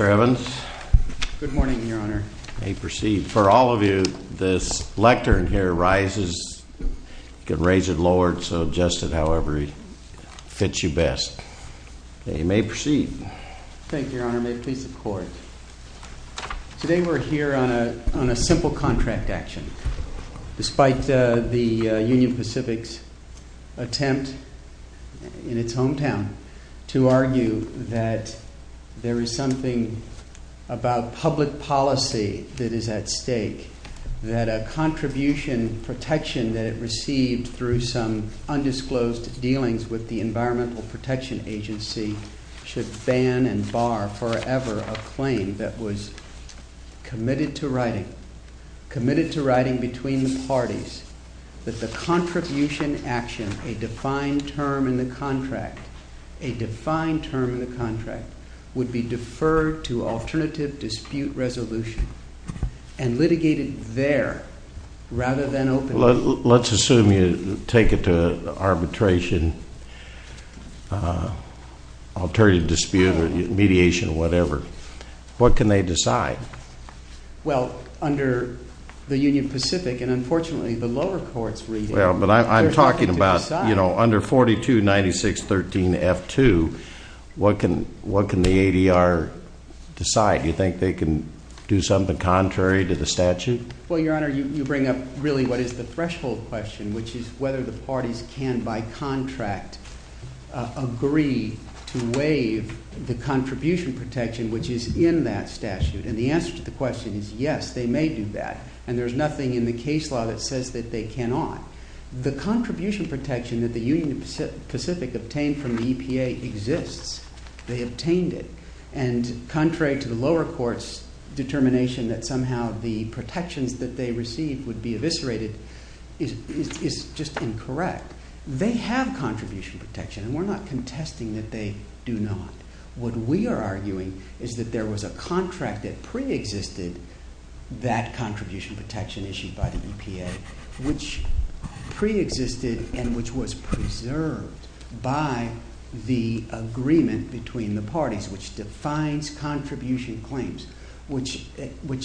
Mr. Evans. Good morning, your honor. May it proceed. For all of you, this lectern here rises. You can raise it, lower it, adjust it however it fits you best. May it proceed. Thank you, your honor. May it please the court. Today we're here on a simple contract action. Despite the Union Pacific's attempt in its hometown to argue that there is something about public policy that is at stake, that a contribution protection that it received through some undisclosed dealings with the Environmental Protection Agency should ban and bar forever a claim that was committed to writing between the parties that the contribution action, a defined term in the contract, would be deferred to alternative dispute resolution and litigated there rather than openly. Let's assume you take it to arbitration, alternative dispute, mediation, whatever. What can they decide? Well, under the Union Pacific, and unfortunately the lower courts read it. Well, but I'm talking about, you know, under 4296.13.F2, what can the ADR decide? Do you think they can do something contrary to the statute? Well, your honor, you bring up really what is the threshold question, which is whether the parties can by contract agree to waive the contribution protection, which is in that statute. And the answer to the question is yes, they may do that. And there's nothing in the case law that says that they cannot. The contribution protection that the Union Pacific obtained from the EPA exists. They obtained it. And contrary to the lower court's determination that somehow the protections that they received would be eviscerated is just incorrect. They have contribution protection, and we're not contesting that they do not. What we are arguing is that there was a contract that preexisted that contribution protection issued by the EPA, which preexisted and which was preserved by the agreement between the parties, which defines contribution claims. Which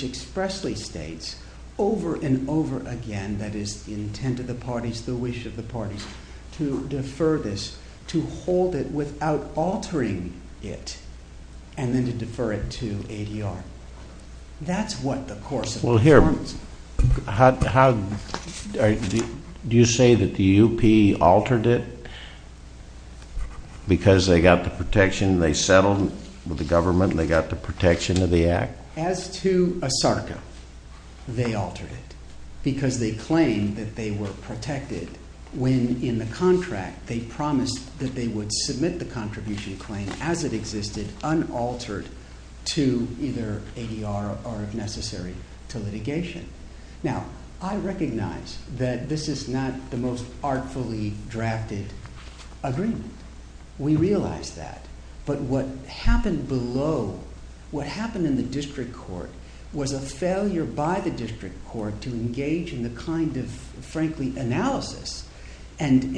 expressly states over and over again, that is the intent of the parties, the wish of the parties, to defer this, to hold it without altering it, and then to defer it to ADR. That's what the course of performance- Well, here, do you say that the UP altered it because they got the protection and they settled with the government and they got the protection of the act? As to ASARCA, they altered it because they claimed that they were protected when in the contract they promised that they would submit the contribution claim as it existed, unaltered, to either ADR or if necessary, to litigation. Now, I recognize that this is not the most artfully drafted agreement. We realize that, but what happened below, what happened in the district court, was a failure by the district court to engage in the kind of, frankly, analysis and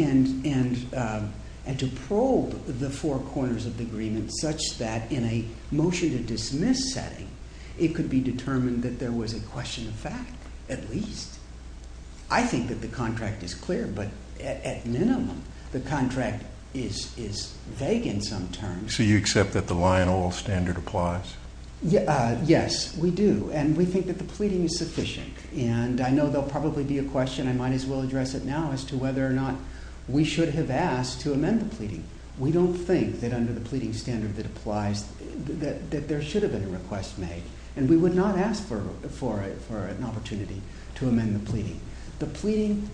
to probe the four corners of the agreement such that in a motion to dismiss setting, it could be determined that there was a question of fact, at least. I think that the contract is clear, but at minimum, the contract is vague in some terms. So you accept that the lion oil standard applies? Yes, we do. And we think that the pleading is sufficient. And I know there will probably be a question, I might as well address it now, as to whether or not we should have asked to amend the pleading. We don't think that under the pleading standard that applies, that there should have been a request made. And we would not ask for an opportunity to amend the pleading. The pleading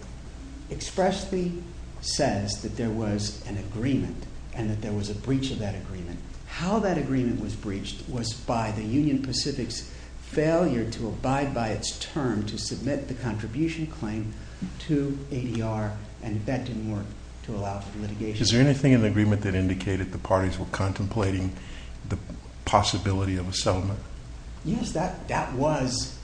expressly says that there was an agreement and that there was a breach of that agreement. How that agreement was breached was by the Union Pacific's failure to abide by its term to submit the contribution claim to ADR, and that didn't work to allow for litigation. Is there anything in the agreement that indicated the parties were contemplating the possibility of a settlement? Yes, that was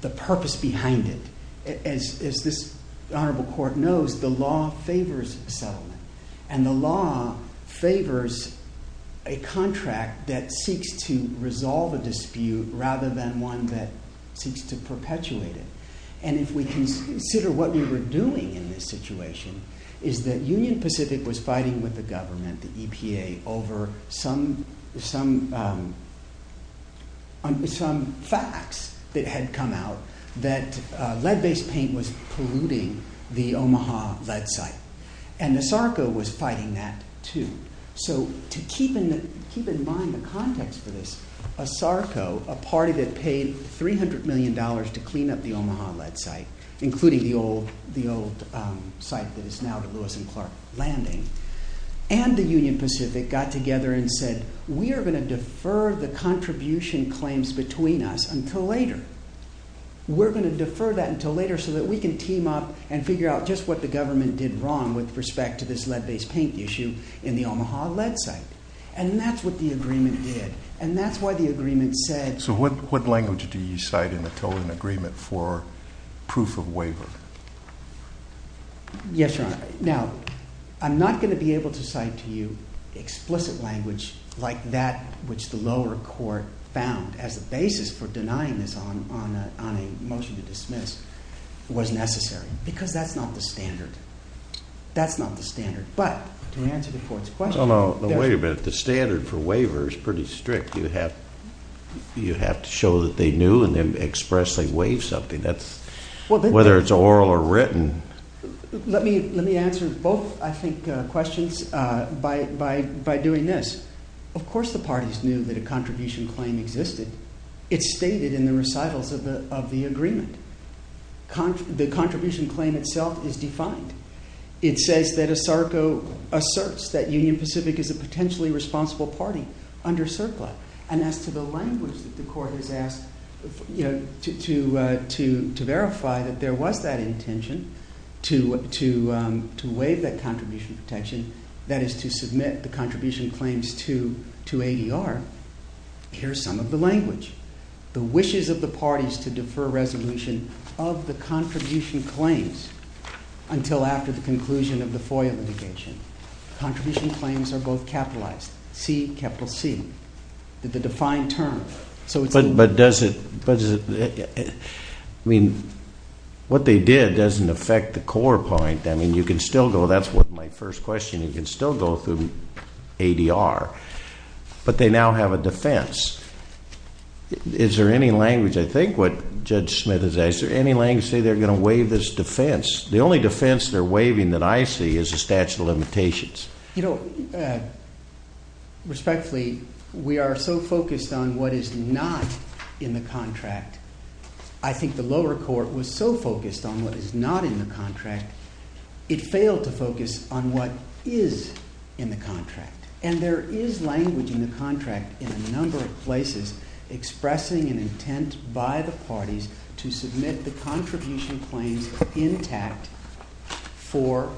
the purpose behind it. As this honorable court knows, the law favors settlement. And the law favors a contract that seeks to resolve a dispute rather than one that seeks to perpetuate it. And if we consider what we were doing in this situation, is that Union Pacific was fighting with the government, the EPA, over some facts that had come out that lead-based paint was polluting the Omaha lead site. And the SARCO was fighting that too. So to keep in mind the context for this, a SARCO, a party that paid $300 million to clean up the Omaha lead site, including the old site that is now the Lewis and Clark Landing, and the Union Pacific got together and said, we are going to defer the contribution claims between us until later. We're going to defer that until later so that we can team up and figure out just what the government did wrong with respect to this lead-based paint issue in the Omaha lead site. And that's what the agreement did. And that's why the agreement said... So what language do you cite in the Tolan agreement for proof of waiver? Yes, Your Honor. Now, I'm not going to be able to cite to you explicit language like that which the lower court found as the basis for denying this on a motion to dismiss was necessary. Because that's not the standard. That's not the standard. But to answer the court's question... But the standard for waiver is pretty strict. You have to show that they knew and then expressly waive something, whether it's oral or written. Let me answer both, I think, questions by doing this. Of course the parties knew that a contribution claim existed. It's stated in the recitals of the agreement. The contribution claim itself is defined. It says that ASARCO asserts that Union Pacific is a potentially responsible party under CERCLA. And as to the language that the court has asked to verify that there was that intention to waive that contribution protection, that is to submit the contribution claims to ADR, here's some of the language. The wishes of the parties to defer resolution of the contribution claims until after the conclusion of the FOIA litigation. Contribution claims are both capitalized. C, capital C. The defined term. But does it... I mean, what they did doesn't affect the core point. I mean, you can still go... That's my first question. You can still go through ADR. But they now have a defense. Is there any language... I think what Judge Smith is asking, is there any language to say they're going to waive this defense? The only defense they're waiving that I see is a statute of limitations. You know, respectfully, we are so focused on what is not in the contract. I think the lower court was so focused on what is not in the contract, it failed to focus on what is in the contract. And there is language in the contract in a number of places expressing an intent by the parties to submit the contribution claims intact for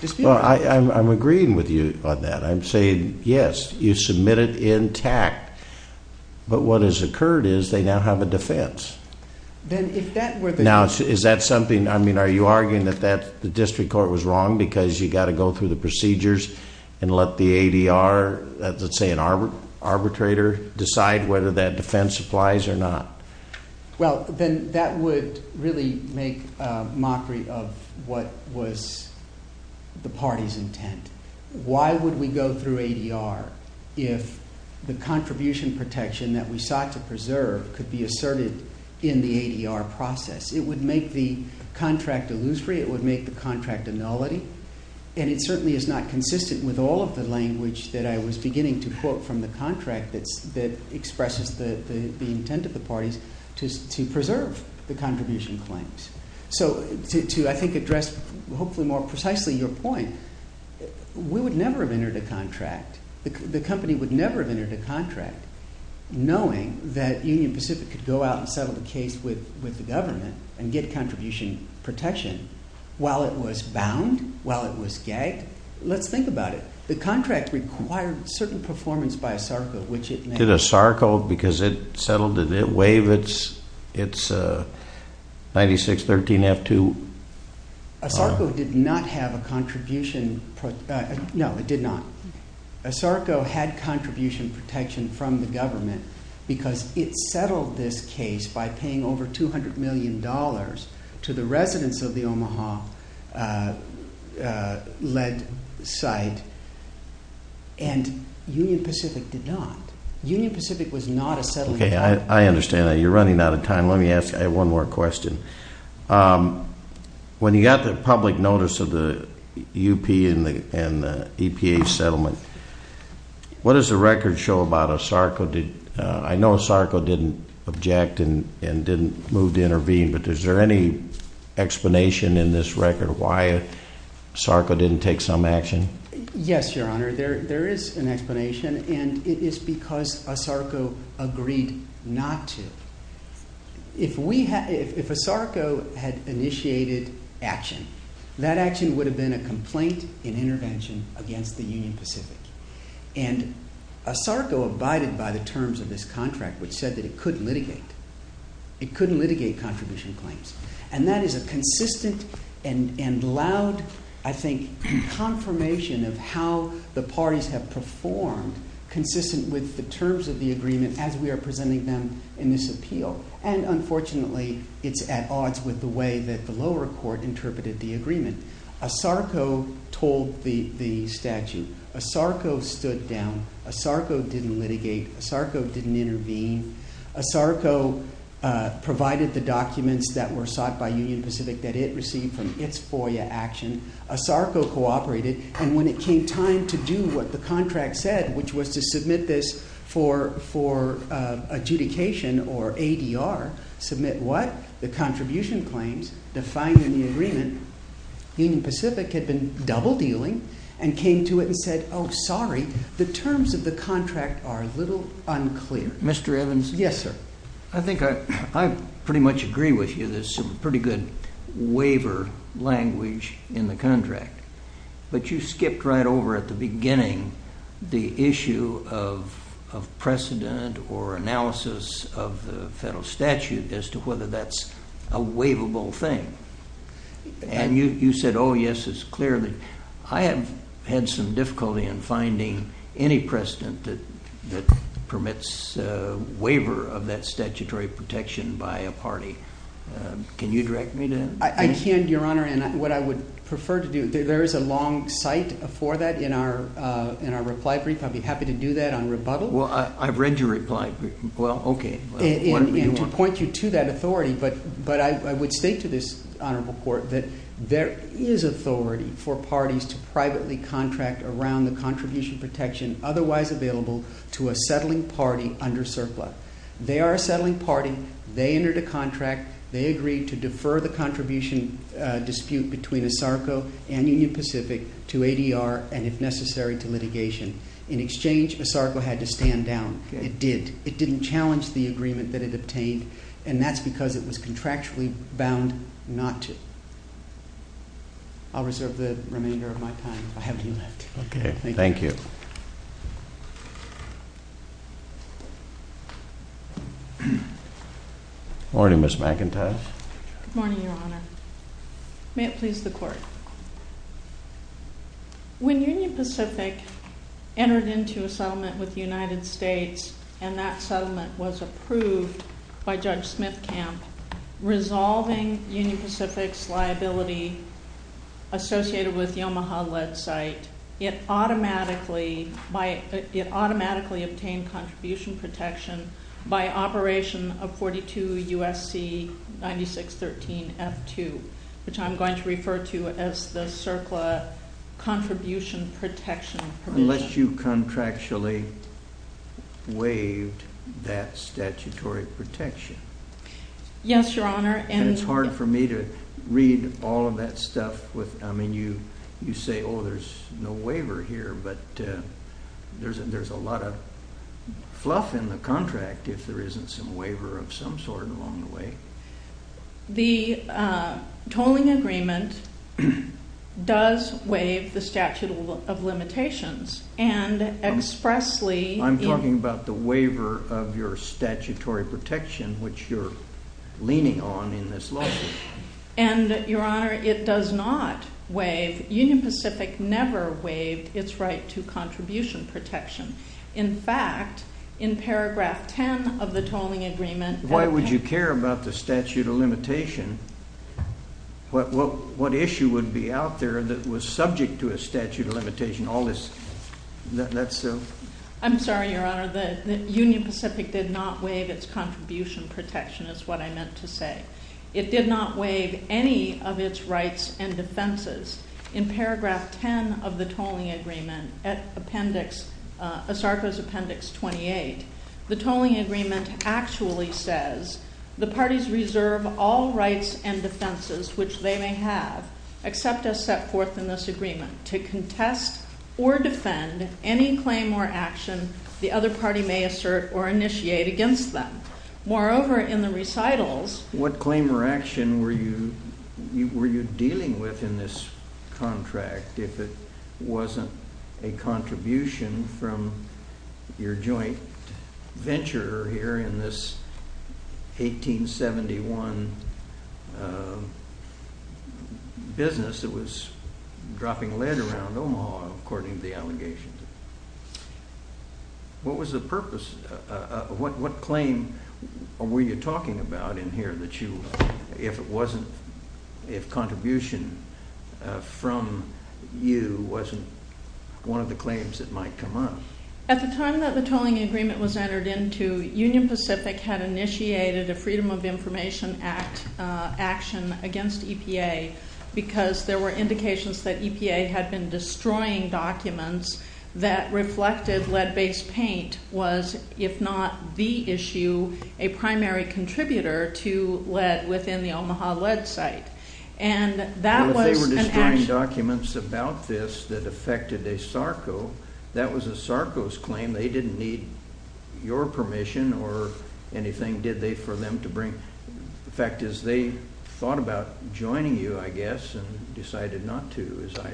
dispute. Well, I'm agreeing with you on that. I'm saying, yes, you submit it intact. But what has occurred is they now have a defense. Now, is that something... I mean, are you arguing that the district court was wrong because you've got to go through the procedures and let the ADR, let's say an arbitrator, decide whether that defense applies or not? Well, then that would really make mockery of what was the party's intent. Why would we go through ADR if the contribution protection that we sought to preserve could be asserted in the ADR process? It would make the contract illusory. It would make the contract a nullity. And it certainly is not consistent with all of the language that I was beginning to quote from the contract that expresses the intent of the parties to preserve the contribution claims. So to, I think, address hopefully more precisely your point, we would never have entered a contract. The company would never have entered a contract knowing that Union Pacific could go out and settle the case with the government and get contribution protection while it was bound, while it was gagged. Let's think about it. The contract required certain performance by a SARCO, which it made. Did it waive its 9613F2? A SARCO did not have a contribution. No, it did not. A SARCO had contribution protection from the government because it settled this case by paying over $200 million to the residents of the Omaha-led site. And Union Pacific did not. Union Pacific was not a settling site. Okay, I understand that. You're running out of time. Let me ask you one more question. When you got the public notice of the UP and the EPA settlement, what does the record show about a SARCO? I know a SARCO didn't object and didn't move to intervene, but is there any explanation in this record why a SARCO didn't take some action? Yes, Your Honor. There is an explanation, and it is because a SARCO agreed not to. If a SARCO had initiated action, that action would have been a complaint in intervention against the Union Pacific. And a SARCO abided by the terms of this contract, which said that it couldn't litigate. It couldn't litigate contribution claims. And that is a consistent and loud, I think, confirmation of how the parties have performed consistent with the terms of the agreement as we are presenting them in this appeal. And unfortunately, it's at odds with the way that the lower court interpreted the agreement. A SARCO told the statute. A SARCO stood down. A SARCO didn't litigate. A SARCO didn't intervene. A SARCO provided the documents that were sought by Union Pacific that it received from its FOIA action. A SARCO cooperated. And when it came time to do what the contract said, which was to submit this for adjudication or ADR, submit what? The contribution claims, the fine and the agreement. Union Pacific had been double dealing and came to it and said, oh, sorry, the terms of the contract are a little unclear. Mr. Evans? Yes, sir. I think I pretty much agree with you. There's some pretty good waiver language in the contract. But you skipped right over at the beginning the issue of precedent or analysis of the federal statute as to whether that's a waivable thing. And you said, oh, yes, it's clear. I have had some difficulty in finding any precedent that permits waiver of that statutory protection by a party. Can you direct me to that? I can, Your Honor. And what I would prefer to do, there is a long cite for that in our reply brief. I'd be happy to do that on rebuttal. Well, I've read your reply brief. Well, OK. And to point you to that authority, but I would state to this honorable court that there is authority for parties to privately contract around the contribution protection otherwise available to a settling party under surplus. They are a settling party. They entered a contract. They agreed to defer the contribution dispute between ASARCO and Union Pacific to ADR and, if necessary, to litigation. In exchange, ASARCO had to stand down. It did. It didn't challenge the agreement that it obtained, and that's because it was contractually bound not to. I'll reserve the remainder of my time if I have any left. OK. Thank you. Morning, Ms. McIntyre. May it please the court. When Union Pacific entered into a settlement with the United States and that settlement was approved by Judge Smithcamp, resolving Union Pacific's liability associated with the Omaha-led site, it automatically obtained contribution protection by operation of 42 U.S.C. 9613 F2, which I'm going to refer to as the CERCLA contribution protection provision. Unless you contractually waived that statutory protection. Yes, Your Honor. And it's hard for me to read all of that stuff. I mean, you say, oh, there's no waiver here, but there's a lot of fluff in the contract if there isn't some waiver of some sort along the way. The tolling agreement does waive the statute of limitations, and expressly... I'm talking about the waiver of your statutory protection, which you're leaning on in this lawsuit. And, Your Honor, it does not waive. Union Pacific never waived its right to contribution protection. In fact, in paragraph 10 of the tolling agreement... Why would you care about the statute of limitation? What issue would be out there that was subject to a statute of limitation? All this... I'm sorry, Your Honor. Union Pacific did not waive its contribution protection is what I meant to say. It did not waive any of its rights and defenses. In paragraph 10 of the tolling agreement at appendix... ASARCO's appendix 28, the tolling agreement actually says, the parties reserve all rights and defenses which they may have, except as set forth in this agreement, to contest or defend any claim or action the other party may assert or initiate against them. Moreover, in the recitals... What were you dealing with in this contract, if it wasn't a contribution from your joint venture here in this 1871 business that was dropping lead around Omaha, according to the allegations? What was the purpose? What claim were you talking about in here that you... if it wasn't... if contribution from you wasn't one of the claims that might come up? At the time that the tolling agreement was entered into, Union Pacific had initiated a Freedom of Information Act action against EPA because there were indications that EPA had been destroying documents that reflected lead-based paint was, if not the issue, a primary contributor to lead within the Omaha lead site. And that was... Well, if they were destroying documents about this that affected ASARCO, that was ASARCO's claim. They didn't need your permission or anything, did they, for them to bring... In fact, as they thought about joining you, I guess, and decided not to, as I...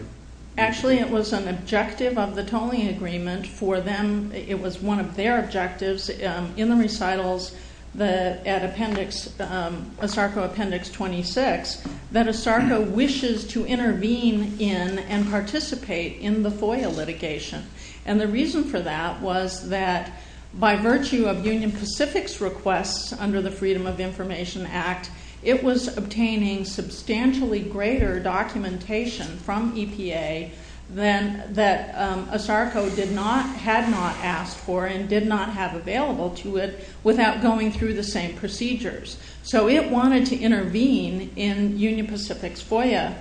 Actually, it was an objective of the tolling agreement for them. It was one of their objectives in the recitals at ASARCO Appendix 26 that ASARCO wishes to intervene in and participate in the FOIA litigation. And the reason for that was that by virtue of Union Pacific's requests under the Freedom of Information Act, it was obtaining substantially greater documentation from EPA than that ASARCO had not asked for and did not have available to it without going through the same procedures. So it wanted to intervene in Union Pacific's FOIA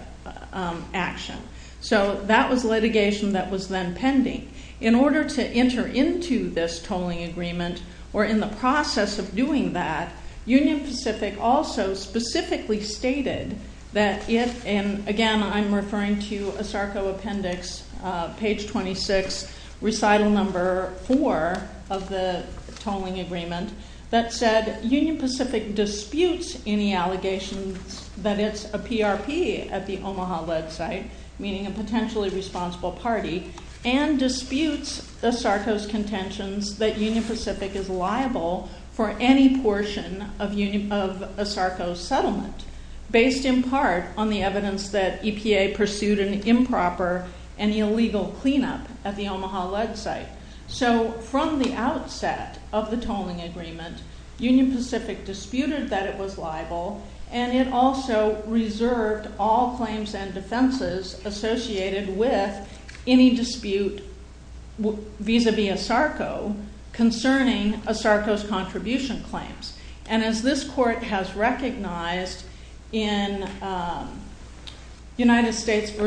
action. So that was litigation that was then pending. In order to enter into this tolling agreement or in the process of doing that, ASARCO specifically stated that it... And, again, I'm referring to ASARCO Appendix page 26, recital number 4 of the tolling agreement, that said Union Pacific disputes any allegations that it's a PRP at the Omaha-led site, meaning a potentially responsible party, and disputes ASARCO's contentions that Union Pacific is liable for any portion of ASARCO's settlement, based in part on the evidence that EPA pursued an improper and illegal cleanup at the Omaha-led site. So from the outset of the tolling agreement, Union Pacific disputed that it was liable, and it also reserved all claims and defenses associated with any dispute vis-à-vis ASARCO concerning ASARCO's contribution claims. And as this court has recognized in United States v.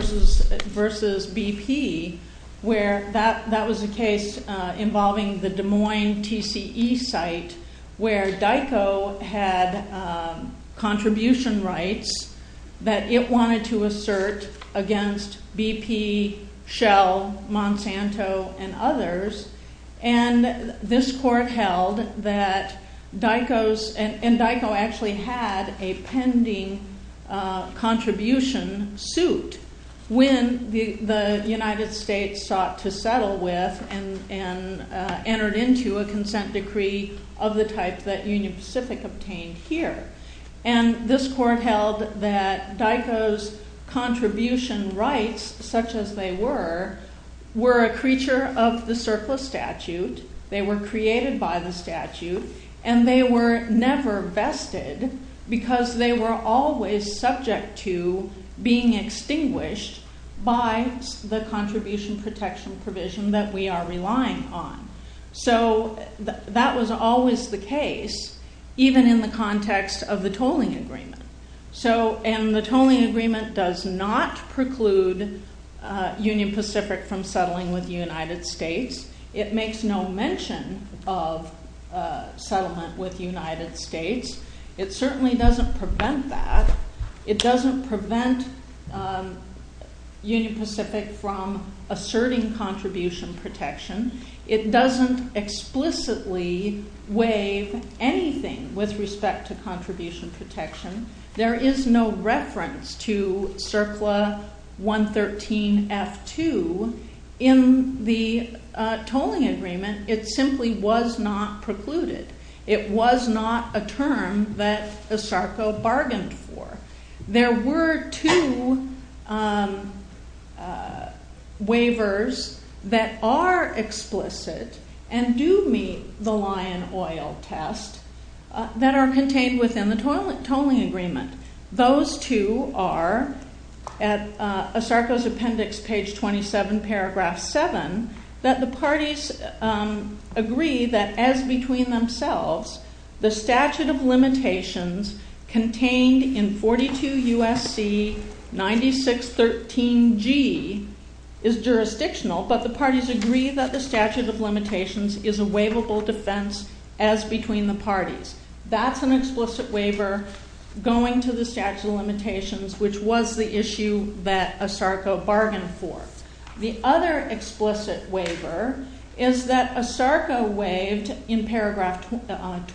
BP, where that was a case involving the Des Moines TCE site, where DICO had contribution rights that it wanted to assert against BP, Shell, Monsanto, and others. And this court held that DICO's... And DICO actually had a pending contribution suit when the United States sought to settle with and entered into a consent decree of the type that Union Pacific obtained here. And this court held that DICO's contribution rights, such as they were, were a creature of the surplus statute, they were created by the statute, and they were never vested because they were always subject to being extinguished by the contribution protection provision that we are relying on. So that was always the case, even in the context of the tolling agreement. And the tolling agreement does not preclude Union Pacific from settling with the United States. It makes no mention of settlement with the United States. It certainly doesn't prevent that. It doesn't prevent Union Pacific from asserting contribution protection. It doesn't explicitly waive anything with respect to contribution protection. There is no reference to CERCLA 113F2. In the tolling agreement, it simply was not precluded. It was not a term that ESARCO bargained for. There were two waivers that are explicit and do meet the lion oil test that are contained within the tolling agreement. Those two are at ESARCO's appendix, page 27, paragraph 7, that the parties agree that as between themselves, the statute of limitations contained in 42 U.S.C. 9613G is jurisdictional, but the parties agree that the statute of limitations is a waivable defense as between the parties. That's an explicit waiver going to the statute of limitations, which was the issue that ESARCO bargained for. The other explicit waiver is that ESARCO waived, in paragraph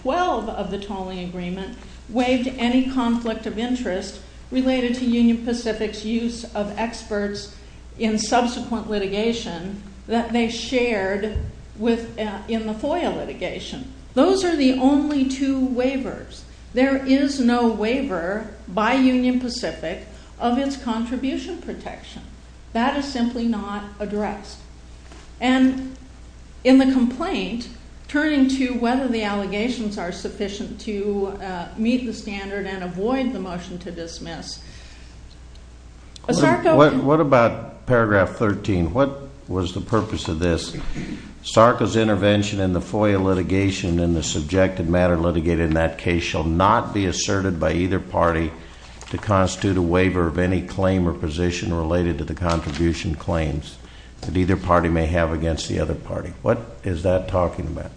12 of the tolling agreement, waived any conflict of interest related to Union Pacific's use of experts in subsequent litigation that they shared in the FOIA litigation. Those are the only two waivers. There is no waiver by Union Pacific of its contribution protection. That is simply not addressed. And in the complaint, turning to whether the allegations are sufficient to meet the standard and avoid the motion to dismiss, ESARCO can... What about paragraph 13? What was the purpose of this? ESARCO's intervention in the FOIA litigation and the subjective matter litigated in that case shall not be asserted by either party to constitute a waiver of any claim or position related to the contribution claims that either party may have against the other party. What is that talking about?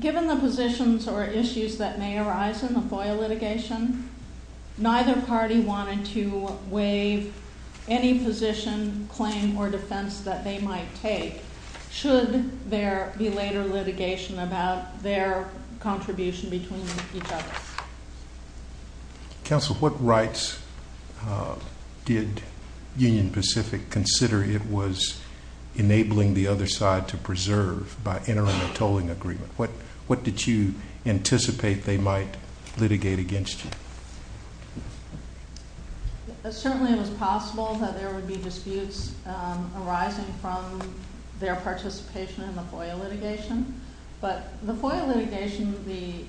Given the positions or issues that may arise in the FOIA litigation, neither party wanted to waive any position, claim, or defense that they might take should there be later litigation about their contribution between each other. Counsel, what rights did Union Pacific consider it was enabling the other side to preserve by entering a tolling agreement? What did you anticipate they might litigate against you? Certainly it was possible that there would be disputes arising from their participation in the FOIA litigation. But the FOIA litigation,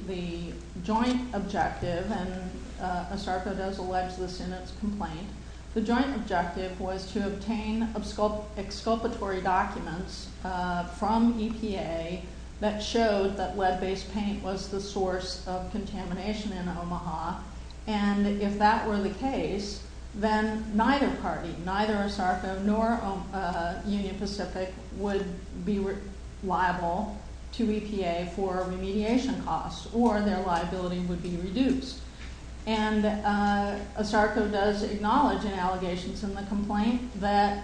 the joint objective, and ESARCO does allege this in its complaint, the joint objective was to obtain exculpatory documents from EPA that showed that lead-based paint was the source of contamination in Omaha. And if that were the case, then neither party, neither ESARCO nor Union Pacific, would be liable to EPA for remediation costs or their liability would be reduced. And ESARCO does acknowledge in allegations in the complaint that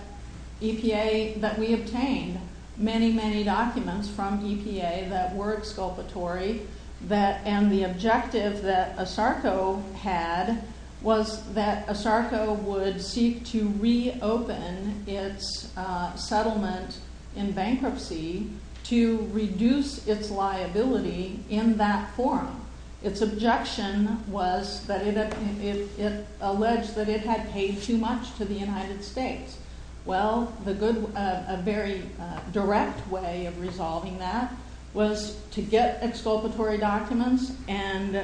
EPA, that we obtained many, many documents from EPA that were exculpatory and the objective that ESARCO had was that ESARCO would seek to reopen its settlement in bankruptcy to reduce its liability in that form. Its objection was that it alleged that it had paid too much to the United States. Well, a very direct way of resolving that was to get exculpatory documents and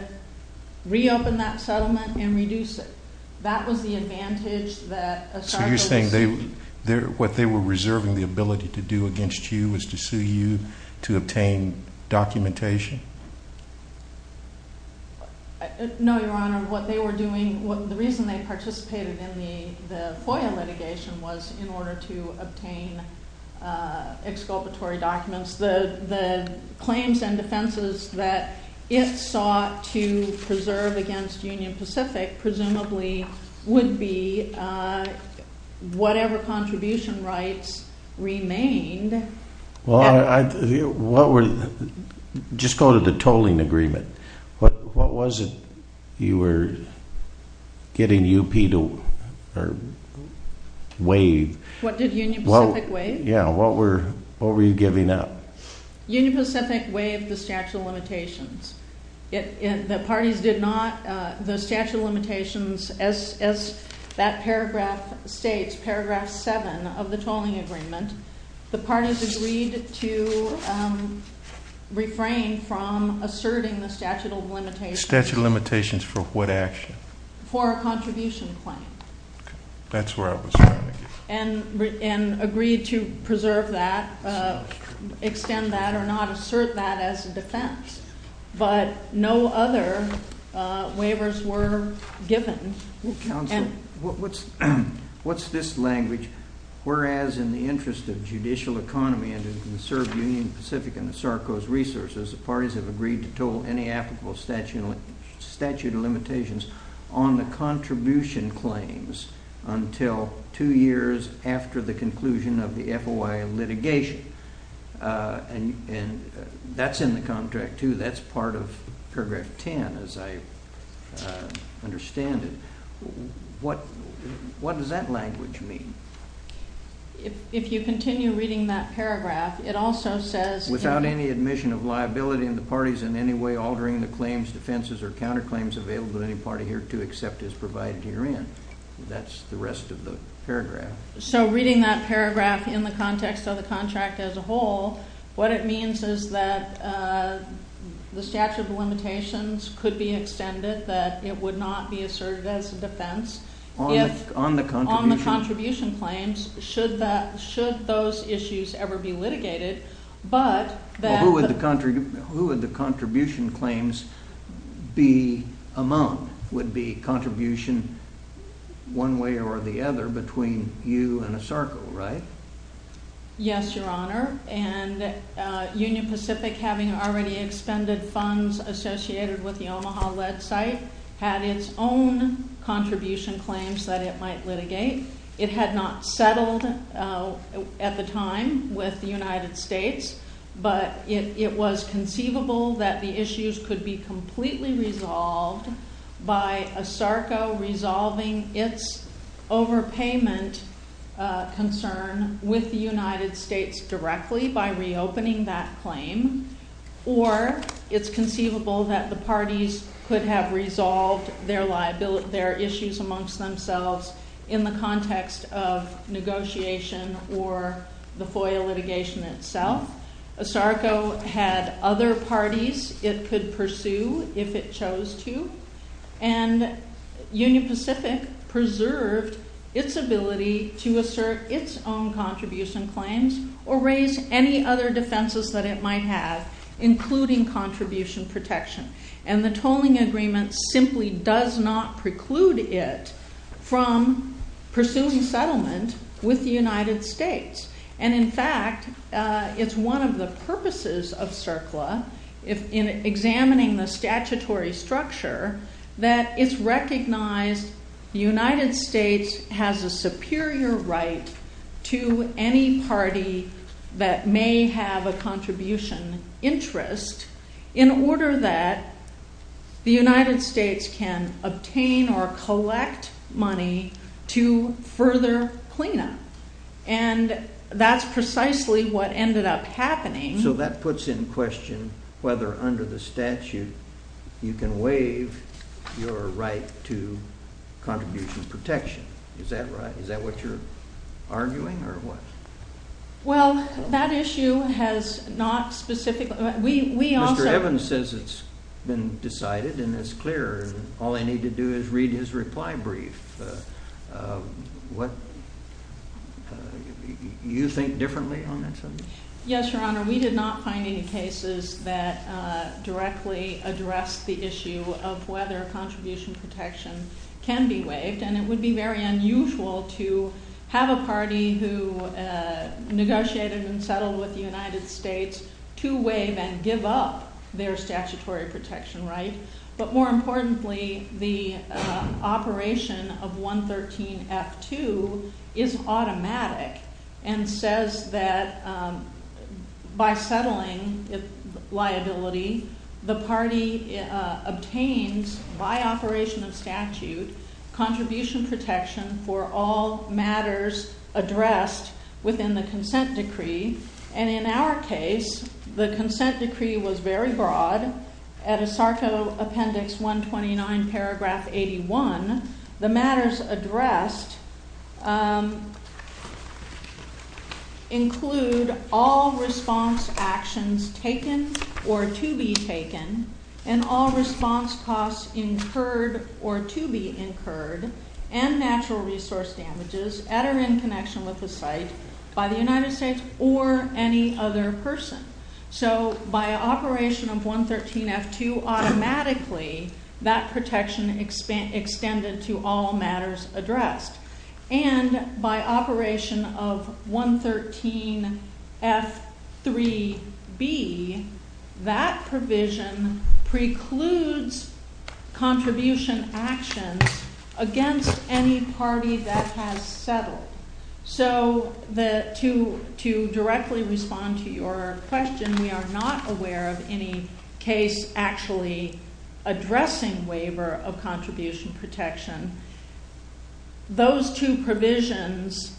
reopen that settlement and reduce it. That was the advantage that ESARCO received. So you're saying what they were reserving the ability to do against you was to sue you to obtain documentation? No, Your Honor. What they were doing, the reason they participated in the FOIA litigation was in order to obtain exculpatory documents. The claims and defenses that it sought to preserve against Union Pacific presumably would be whatever contribution rights remained. Just go to the tolling agreement. What was it you were getting UP to waive? What did Union Pacific waive? Yeah, what were you giving up? Union Pacific waived the statute of limitations. The parties did not, the statute of limitations, as that paragraph states, paragraph 7 of the tolling agreement, the parties agreed to refrain from asserting the statute of limitations. Statute of limitations for what action? For a contribution claim. That's where I was trying to get to. And agreed to preserve that, extend that, or not assert that as a defense. But no other waivers were given. Counsel, what's this language? Whereas in the interest of judicial economy and to conserve Union Pacific and the SARCO's resources, the parties have agreed to toll any applicable statute of limitations on the contribution claims until two years after the conclusion of the FOIA litigation. And that's in the contract, too. That's part of paragraph 10, as I understand it. What does that language mean? If you continue reading that paragraph, it also says... Without any admission of liability and the parties in any way altering the claims, defenses, or counterclaims available to any party here to accept as provided herein. That's the rest of the paragraph. So reading that paragraph in the context of the contract as a whole, what it means is that the statute of limitations could be extended, that it would not be asserted as a defense. On the contribution? On the contribution claims, should those issues ever be litigated. Who would the contribution claims be among? Would it be contribution one way or the other between you and a SARCO, right? Yes, Your Honor. And Union Pacific, having already expended funds associated with the Omaha-led site, had its own contribution claims that it might litigate. It had not settled at the time with the United States, but it was conceivable that the issues could be completely resolved by a SARCO resolving its overpayment concern with the United States directly by reopening that claim, or it's conceivable that the parties could have resolved their issues amongst themselves in the context of negotiation or the FOIA litigation itself. A SARCO had other parties it could pursue if it chose to, and Union Pacific preserved its ability to assert its own contribution claims or raise any other defenses that it might have, including contribution protection. And the tolling agreement simply does not preclude it from pursuing settlement with the United States. And in fact, it's one of the purposes of CERCLA in examining the statutory structure that it's recognized the United States has a superior right to any party that may have a contribution interest in order that the United States can obtain or collect money to further cleanup. And that's precisely what ended up happening. So that puts in question whether under the statute you can waive your right to contribution protection. Is that right? Is that what you're arguing or what? Well, that issue has not specifically... Mr. Evans says it's been decided and it's clear. All I need to do is read his reply brief. Do you think differently on that subject? Yes, Your Honor. We did not find any cases that directly addressed the issue of whether contribution protection can be waived, and it would be very unusual to have a party who negotiated and settled with the United States to waive and give up their statutory protection right. But more importantly, the operation of 113F2 is automatic and says that by settling liability, the party obtains by operation of statute contribution protection for all matters addressed within the consent decree. And in our case, the consent decree was very broad. At ASARCO Appendix 129, Paragraph 81, the matters addressed include all response actions taken or to be taken and all response costs incurred or to be incurred and natural resource damages at or in connection with the site by the United States or any other person. So by operation of 113F2, automatically that protection extended to all matters addressed. And by operation of 113F3B, that provision precludes contribution actions against any party that has settled. So to directly respond to your question, we are not aware of any case actually addressing waiver of contribution protection. Those two provisions,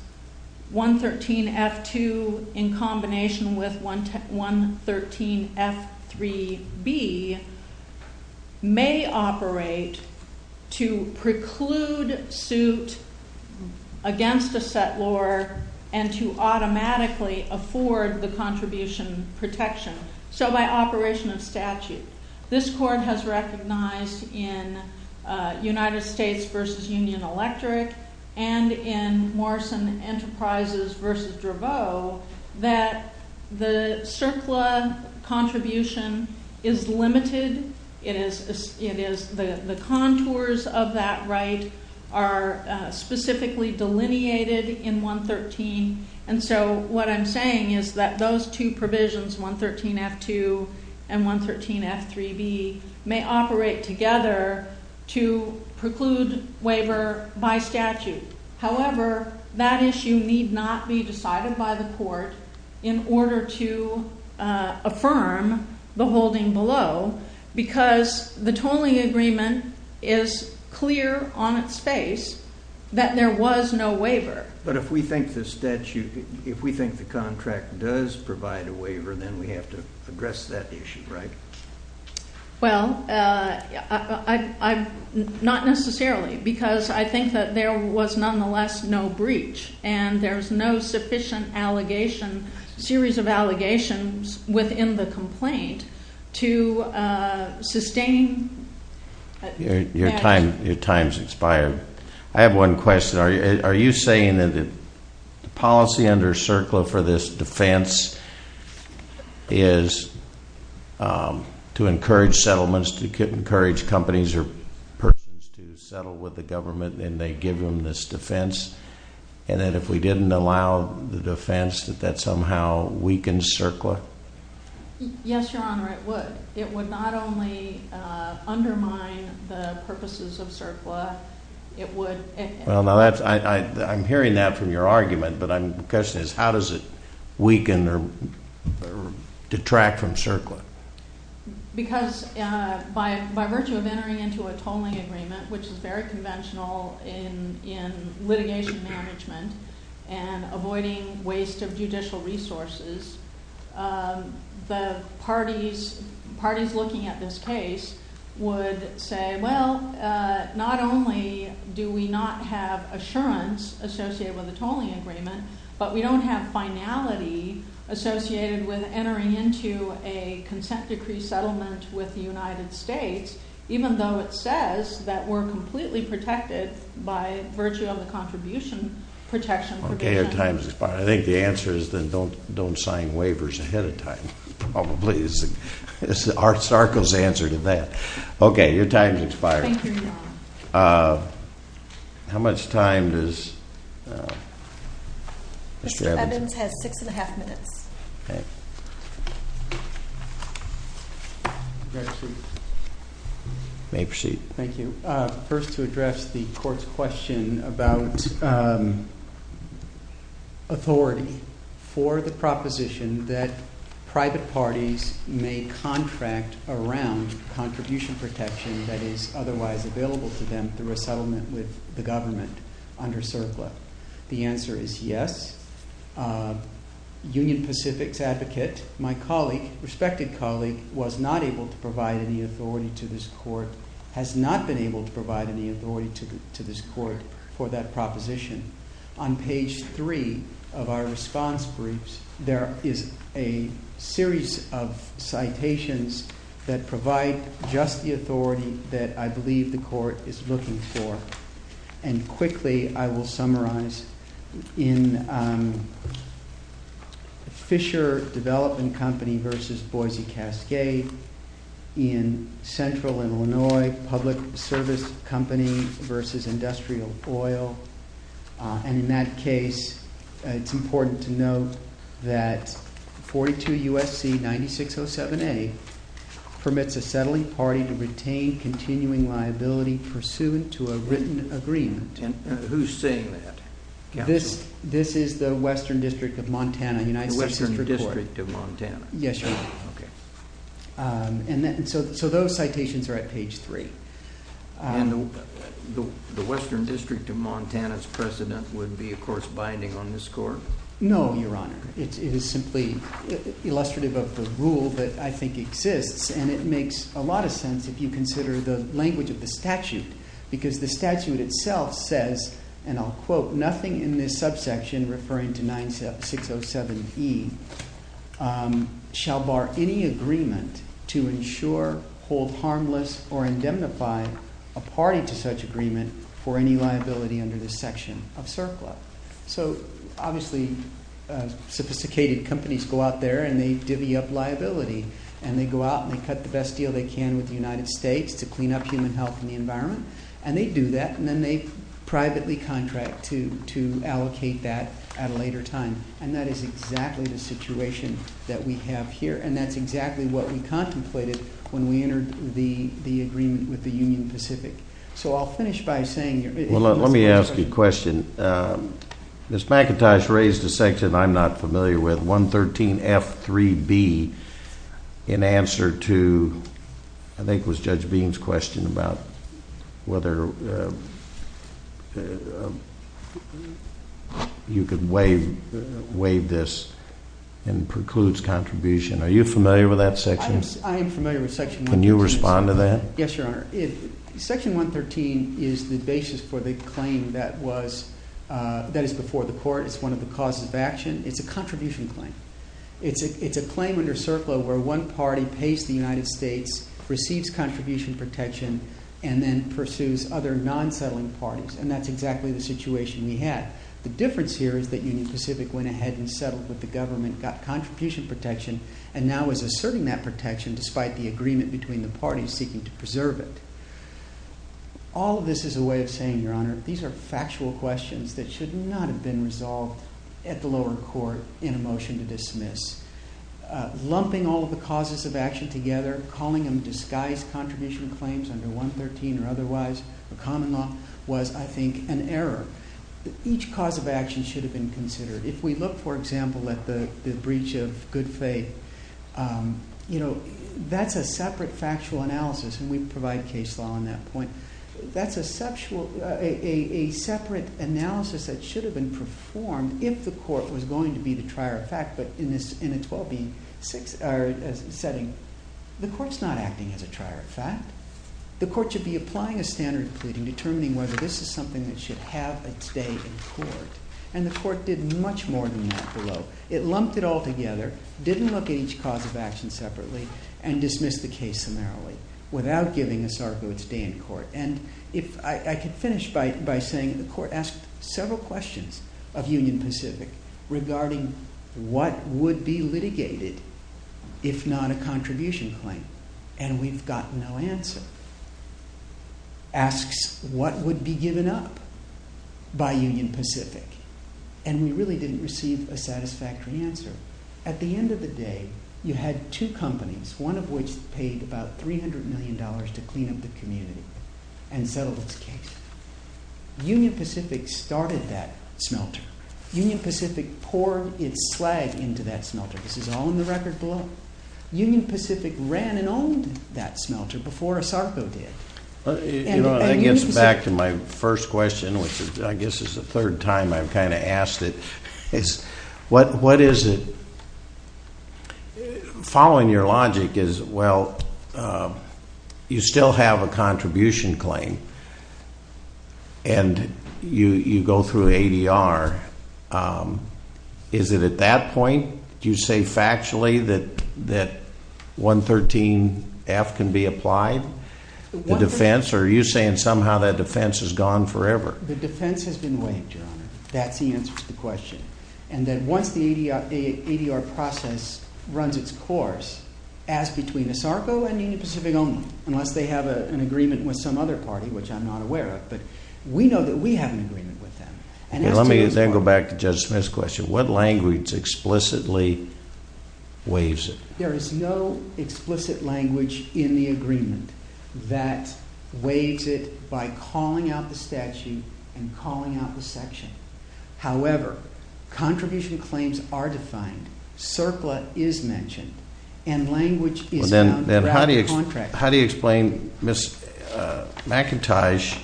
113F2 in combination with 113F3B, may operate to preclude suit against a settlor and to automatically afford the contribution protection. So by operation of statute, this court has recognized in United States v. Union Electric and in Morrison Enterprises v. Draveau that the CERCLA contribution is limited. The contours of that right are specifically delineated in 113. And so what I'm saying is that those two provisions, 113F2 and 113F3B, may operate together to preclude waiver by statute. However, that issue need not be decided by the court in order to affirm the holding below because the tolling agreement is clear on its face that there was no waiver. But if we think the statute, if we think the contract does provide a waiver, then we have to address that issue, right? Well, not necessarily because I think that there was nonetheless no breach and there's no sufficient allegation, series of allegations, within the complaint to sustain. Your time's expired. I have one question. Are you saying that the policy under CERCLA for this defense is to encourage settlements, to encourage companies or persons to settle with the government and they give them this defense, and that if we didn't allow the defense that that somehow weakens CERCLA? Yes, Your Honor, it would. It would not only undermine the purposes of CERCLA. I'm hearing that from your argument, but the question is how does it weaken or detract from CERCLA? Because by virtue of entering into a tolling agreement, which is very conventional in litigation management and avoiding waste of judicial resources, the parties looking at this case would say, well, not only do we not have assurance associated with a tolling agreement, but we don't have finality associated with entering into a consent decree settlement with the United States, even though it says that we're completely protected by virtue of the contribution protection provision. Okay, your time's expired. I think the answer is then don't sign waivers ahead of time, probably. It's Art Sarko's answer to that. Okay, your time's expired. Thank you, Your Honor. How much time does Mr. Evans have? Mr. Evans has six and a half minutes. Okay. You may proceed. Thank you. First, to address the court's question about authority for the proposition that private parties may contract around contribution protection that is otherwise available to them through a settlement with the government under CERCLA. The answer is yes. Union Pacific's advocate, my colleague, respected colleague, was not able to provide any authority to this court, has not been able to provide any authority to this court for that proposition. On page three of our response briefs, there is a series of citations that provide just the authority that I believe the court is looking for. And quickly, I will summarize. In Fisher Development Company versus Boise Cascade, in Central and Illinois Public Service Company versus Industrial Oil. And in that case, it's important to note that 42 U.S.C. 9607A permits a settling party to retain continuing liability pursuant to a written agreement. Who's saying that? This is the Western District of Montana, United States District Court. The Western District of Montana. Yes, Your Honor. Okay. And so those citations are at page three. And the Western District of Montana's president would be, of course, binding on this court? No, Your Honor. It is simply illustrative of the rule that I think exists, and it makes a lot of sense if you consider the language of the statute, because the statute itself says, and I'll quote, nothing in this subsection, referring to 9607E, shall bar any agreement to ensure, hold harmless, or indemnify a party to such agreement for any liability under this section of CERCLA. So obviously, sophisticated companies go out there and they divvy up liability, and they go out and they cut the best deal they can with the United States to clean up human health and the environment, and they do that, and then they privately contract to allocate that at a later time. And that is exactly the situation that we have here, and that's exactly what we contemplated when we entered the agreement with the Union Pacific. So I'll finish by saying here. Well, let me ask you a question. Ms. McIntosh raised a section I'm not familiar with, 113F3B, in answer to I think it was Judge Beam's question about whether you could waive this and precludes contribution. Are you familiar with that section? I am familiar with section 113. Can you respond to that? Yes, Your Honor. Section 113 is the basis for the claim that is before the court. It's one of the causes of action. It's a contribution claim. It's a claim under CERCLA where one party pays the United States, receives contribution protection, and then pursues other non-settling parties, and that's exactly the situation we had. The difference here is that Union Pacific went ahead and settled with the government, got contribution protection, and now is asserting that protection despite the agreement between the parties seeking to preserve it. All of this is a way of saying, Your Honor, these are factual questions that should not have been resolved at the lower court in a motion to dismiss. Lumping all of the causes of action together, calling them disguised contribution claims under 113 or otherwise, the common law, was, I think, an error. Each cause of action should have been considered. If we look, for example, at the breach of good faith, you know, that's a separate factual analysis, and we provide case law on that point. That's a separate analysis that should have been performed if the court was going to be the trier of fact, but in a 12B setting, the court's not acting as a trier of fact. The court should be applying a standard pleading, determining whether this is something that should have its day in court, and the court did much more than that below. It lumped it all together, didn't look at each cause of action separately, and dismissed the case summarily without giving us our goods day in court. And if I could finish by saying the court asked several questions of Union Pacific regarding what would be litigated if not a contribution claim, and we've got no answer. Asks what would be given up by Union Pacific, and we really didn't receive a satisfactory answer. At the end of the day, you had two companies, one of which paid about $300 million to clean up the community and settle this case. Union Pacific started that smelter. Union Pacific poured its slag into that smelter. This is all in the record below. Union Pacific ran and owned that smelter before ASARCO did. It gets back to my first question, which I guess is the third time I've kind of asked it. What is it? Following your logic is, well, you still have a contribution claim, and you go through ADR. Is it at that point you say factually that 113F can be applied? The defense? Or are you saying somehow that defense is gone forever? The defense has been waived, Your Honor. That's the answer to the question, and that once the ADR process runs its course, ask between ASARCO and Union Pacific only, unless they have an agreement with some other party, which I'm not aware of, but we know that we have an agreement with them. Let me then go back to Judge Smith's question. What language explicitly waives it? There is no explicit language in the agreement that waives it by calling out the statute and calling out the section. However, contribution claims are defined, CERCLA is mentioned, and language is found throughout the contract. How do you explain Ms. McIntosh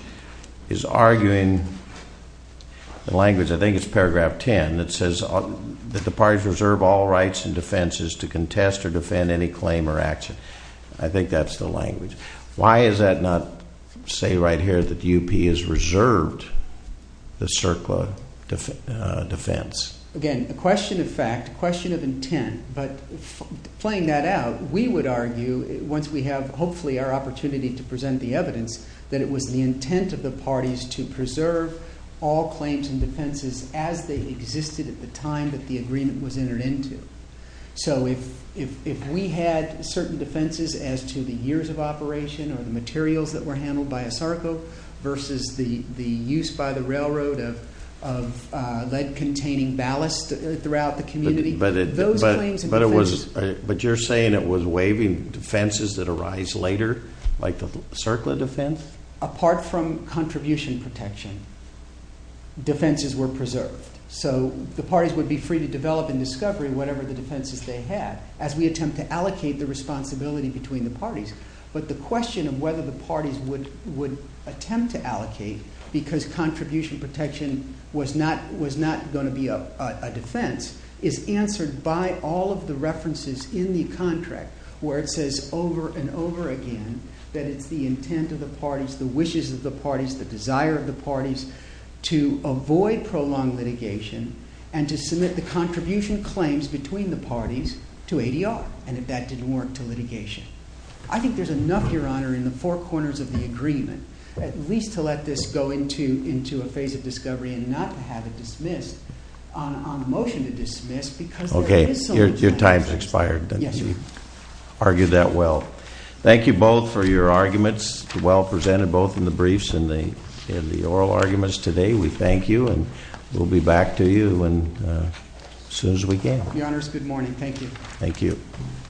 is arguing the language? I think it's paragraph 10 that says that the parties reserve all rights and defenses I think that's the language. Why does that not say right here that the UP has reserved the CERCLA defense? Again, a question of fact, a question of intent, but playing that out, we would argue once we have, hopefully, our opportunity to present the evidence that it was the intent of the parties to preserve all claims and defenses as they existed at the time that the agreement was entered into. So if we had certain defenses as to the years of operation or the materials that were handled by ASARCO versus the use by the railroad of lead-containing ballast throughout the community, those claims and defenses... But you're saying it was waiving defenses that arise later, like the CERCLA defense? Apart from contribution protection, defenses were preserved. So the parties would be free to develop and discover whatever the defenses they had. As we attempt to allocate the responsibility between the parties. But the question of whether the parties would attempt to allocate because contribution protection was not going to be a defense is answered by all of the references in the contract where it says over and over again that it's the intent of the parties, the wishes of the parties, the desire of the parties to avoid prolonged litigation and to submit the contribution claims between the parties to ADR. And if that didn't work, to litigation. I think there's enough, Your Honor, in the four corners of the agreement at least to let this go into a phase of discovery and not have it dismissed, on motion to dismiss... Okay, your time's expired. Yes. You argued that well. Thank you both for your arguments, well presented both in the briefs and the oral arguments today. We thank you, and we'll be back to you as soon as we can. Your Honors, good morning. Thank you. Thank you.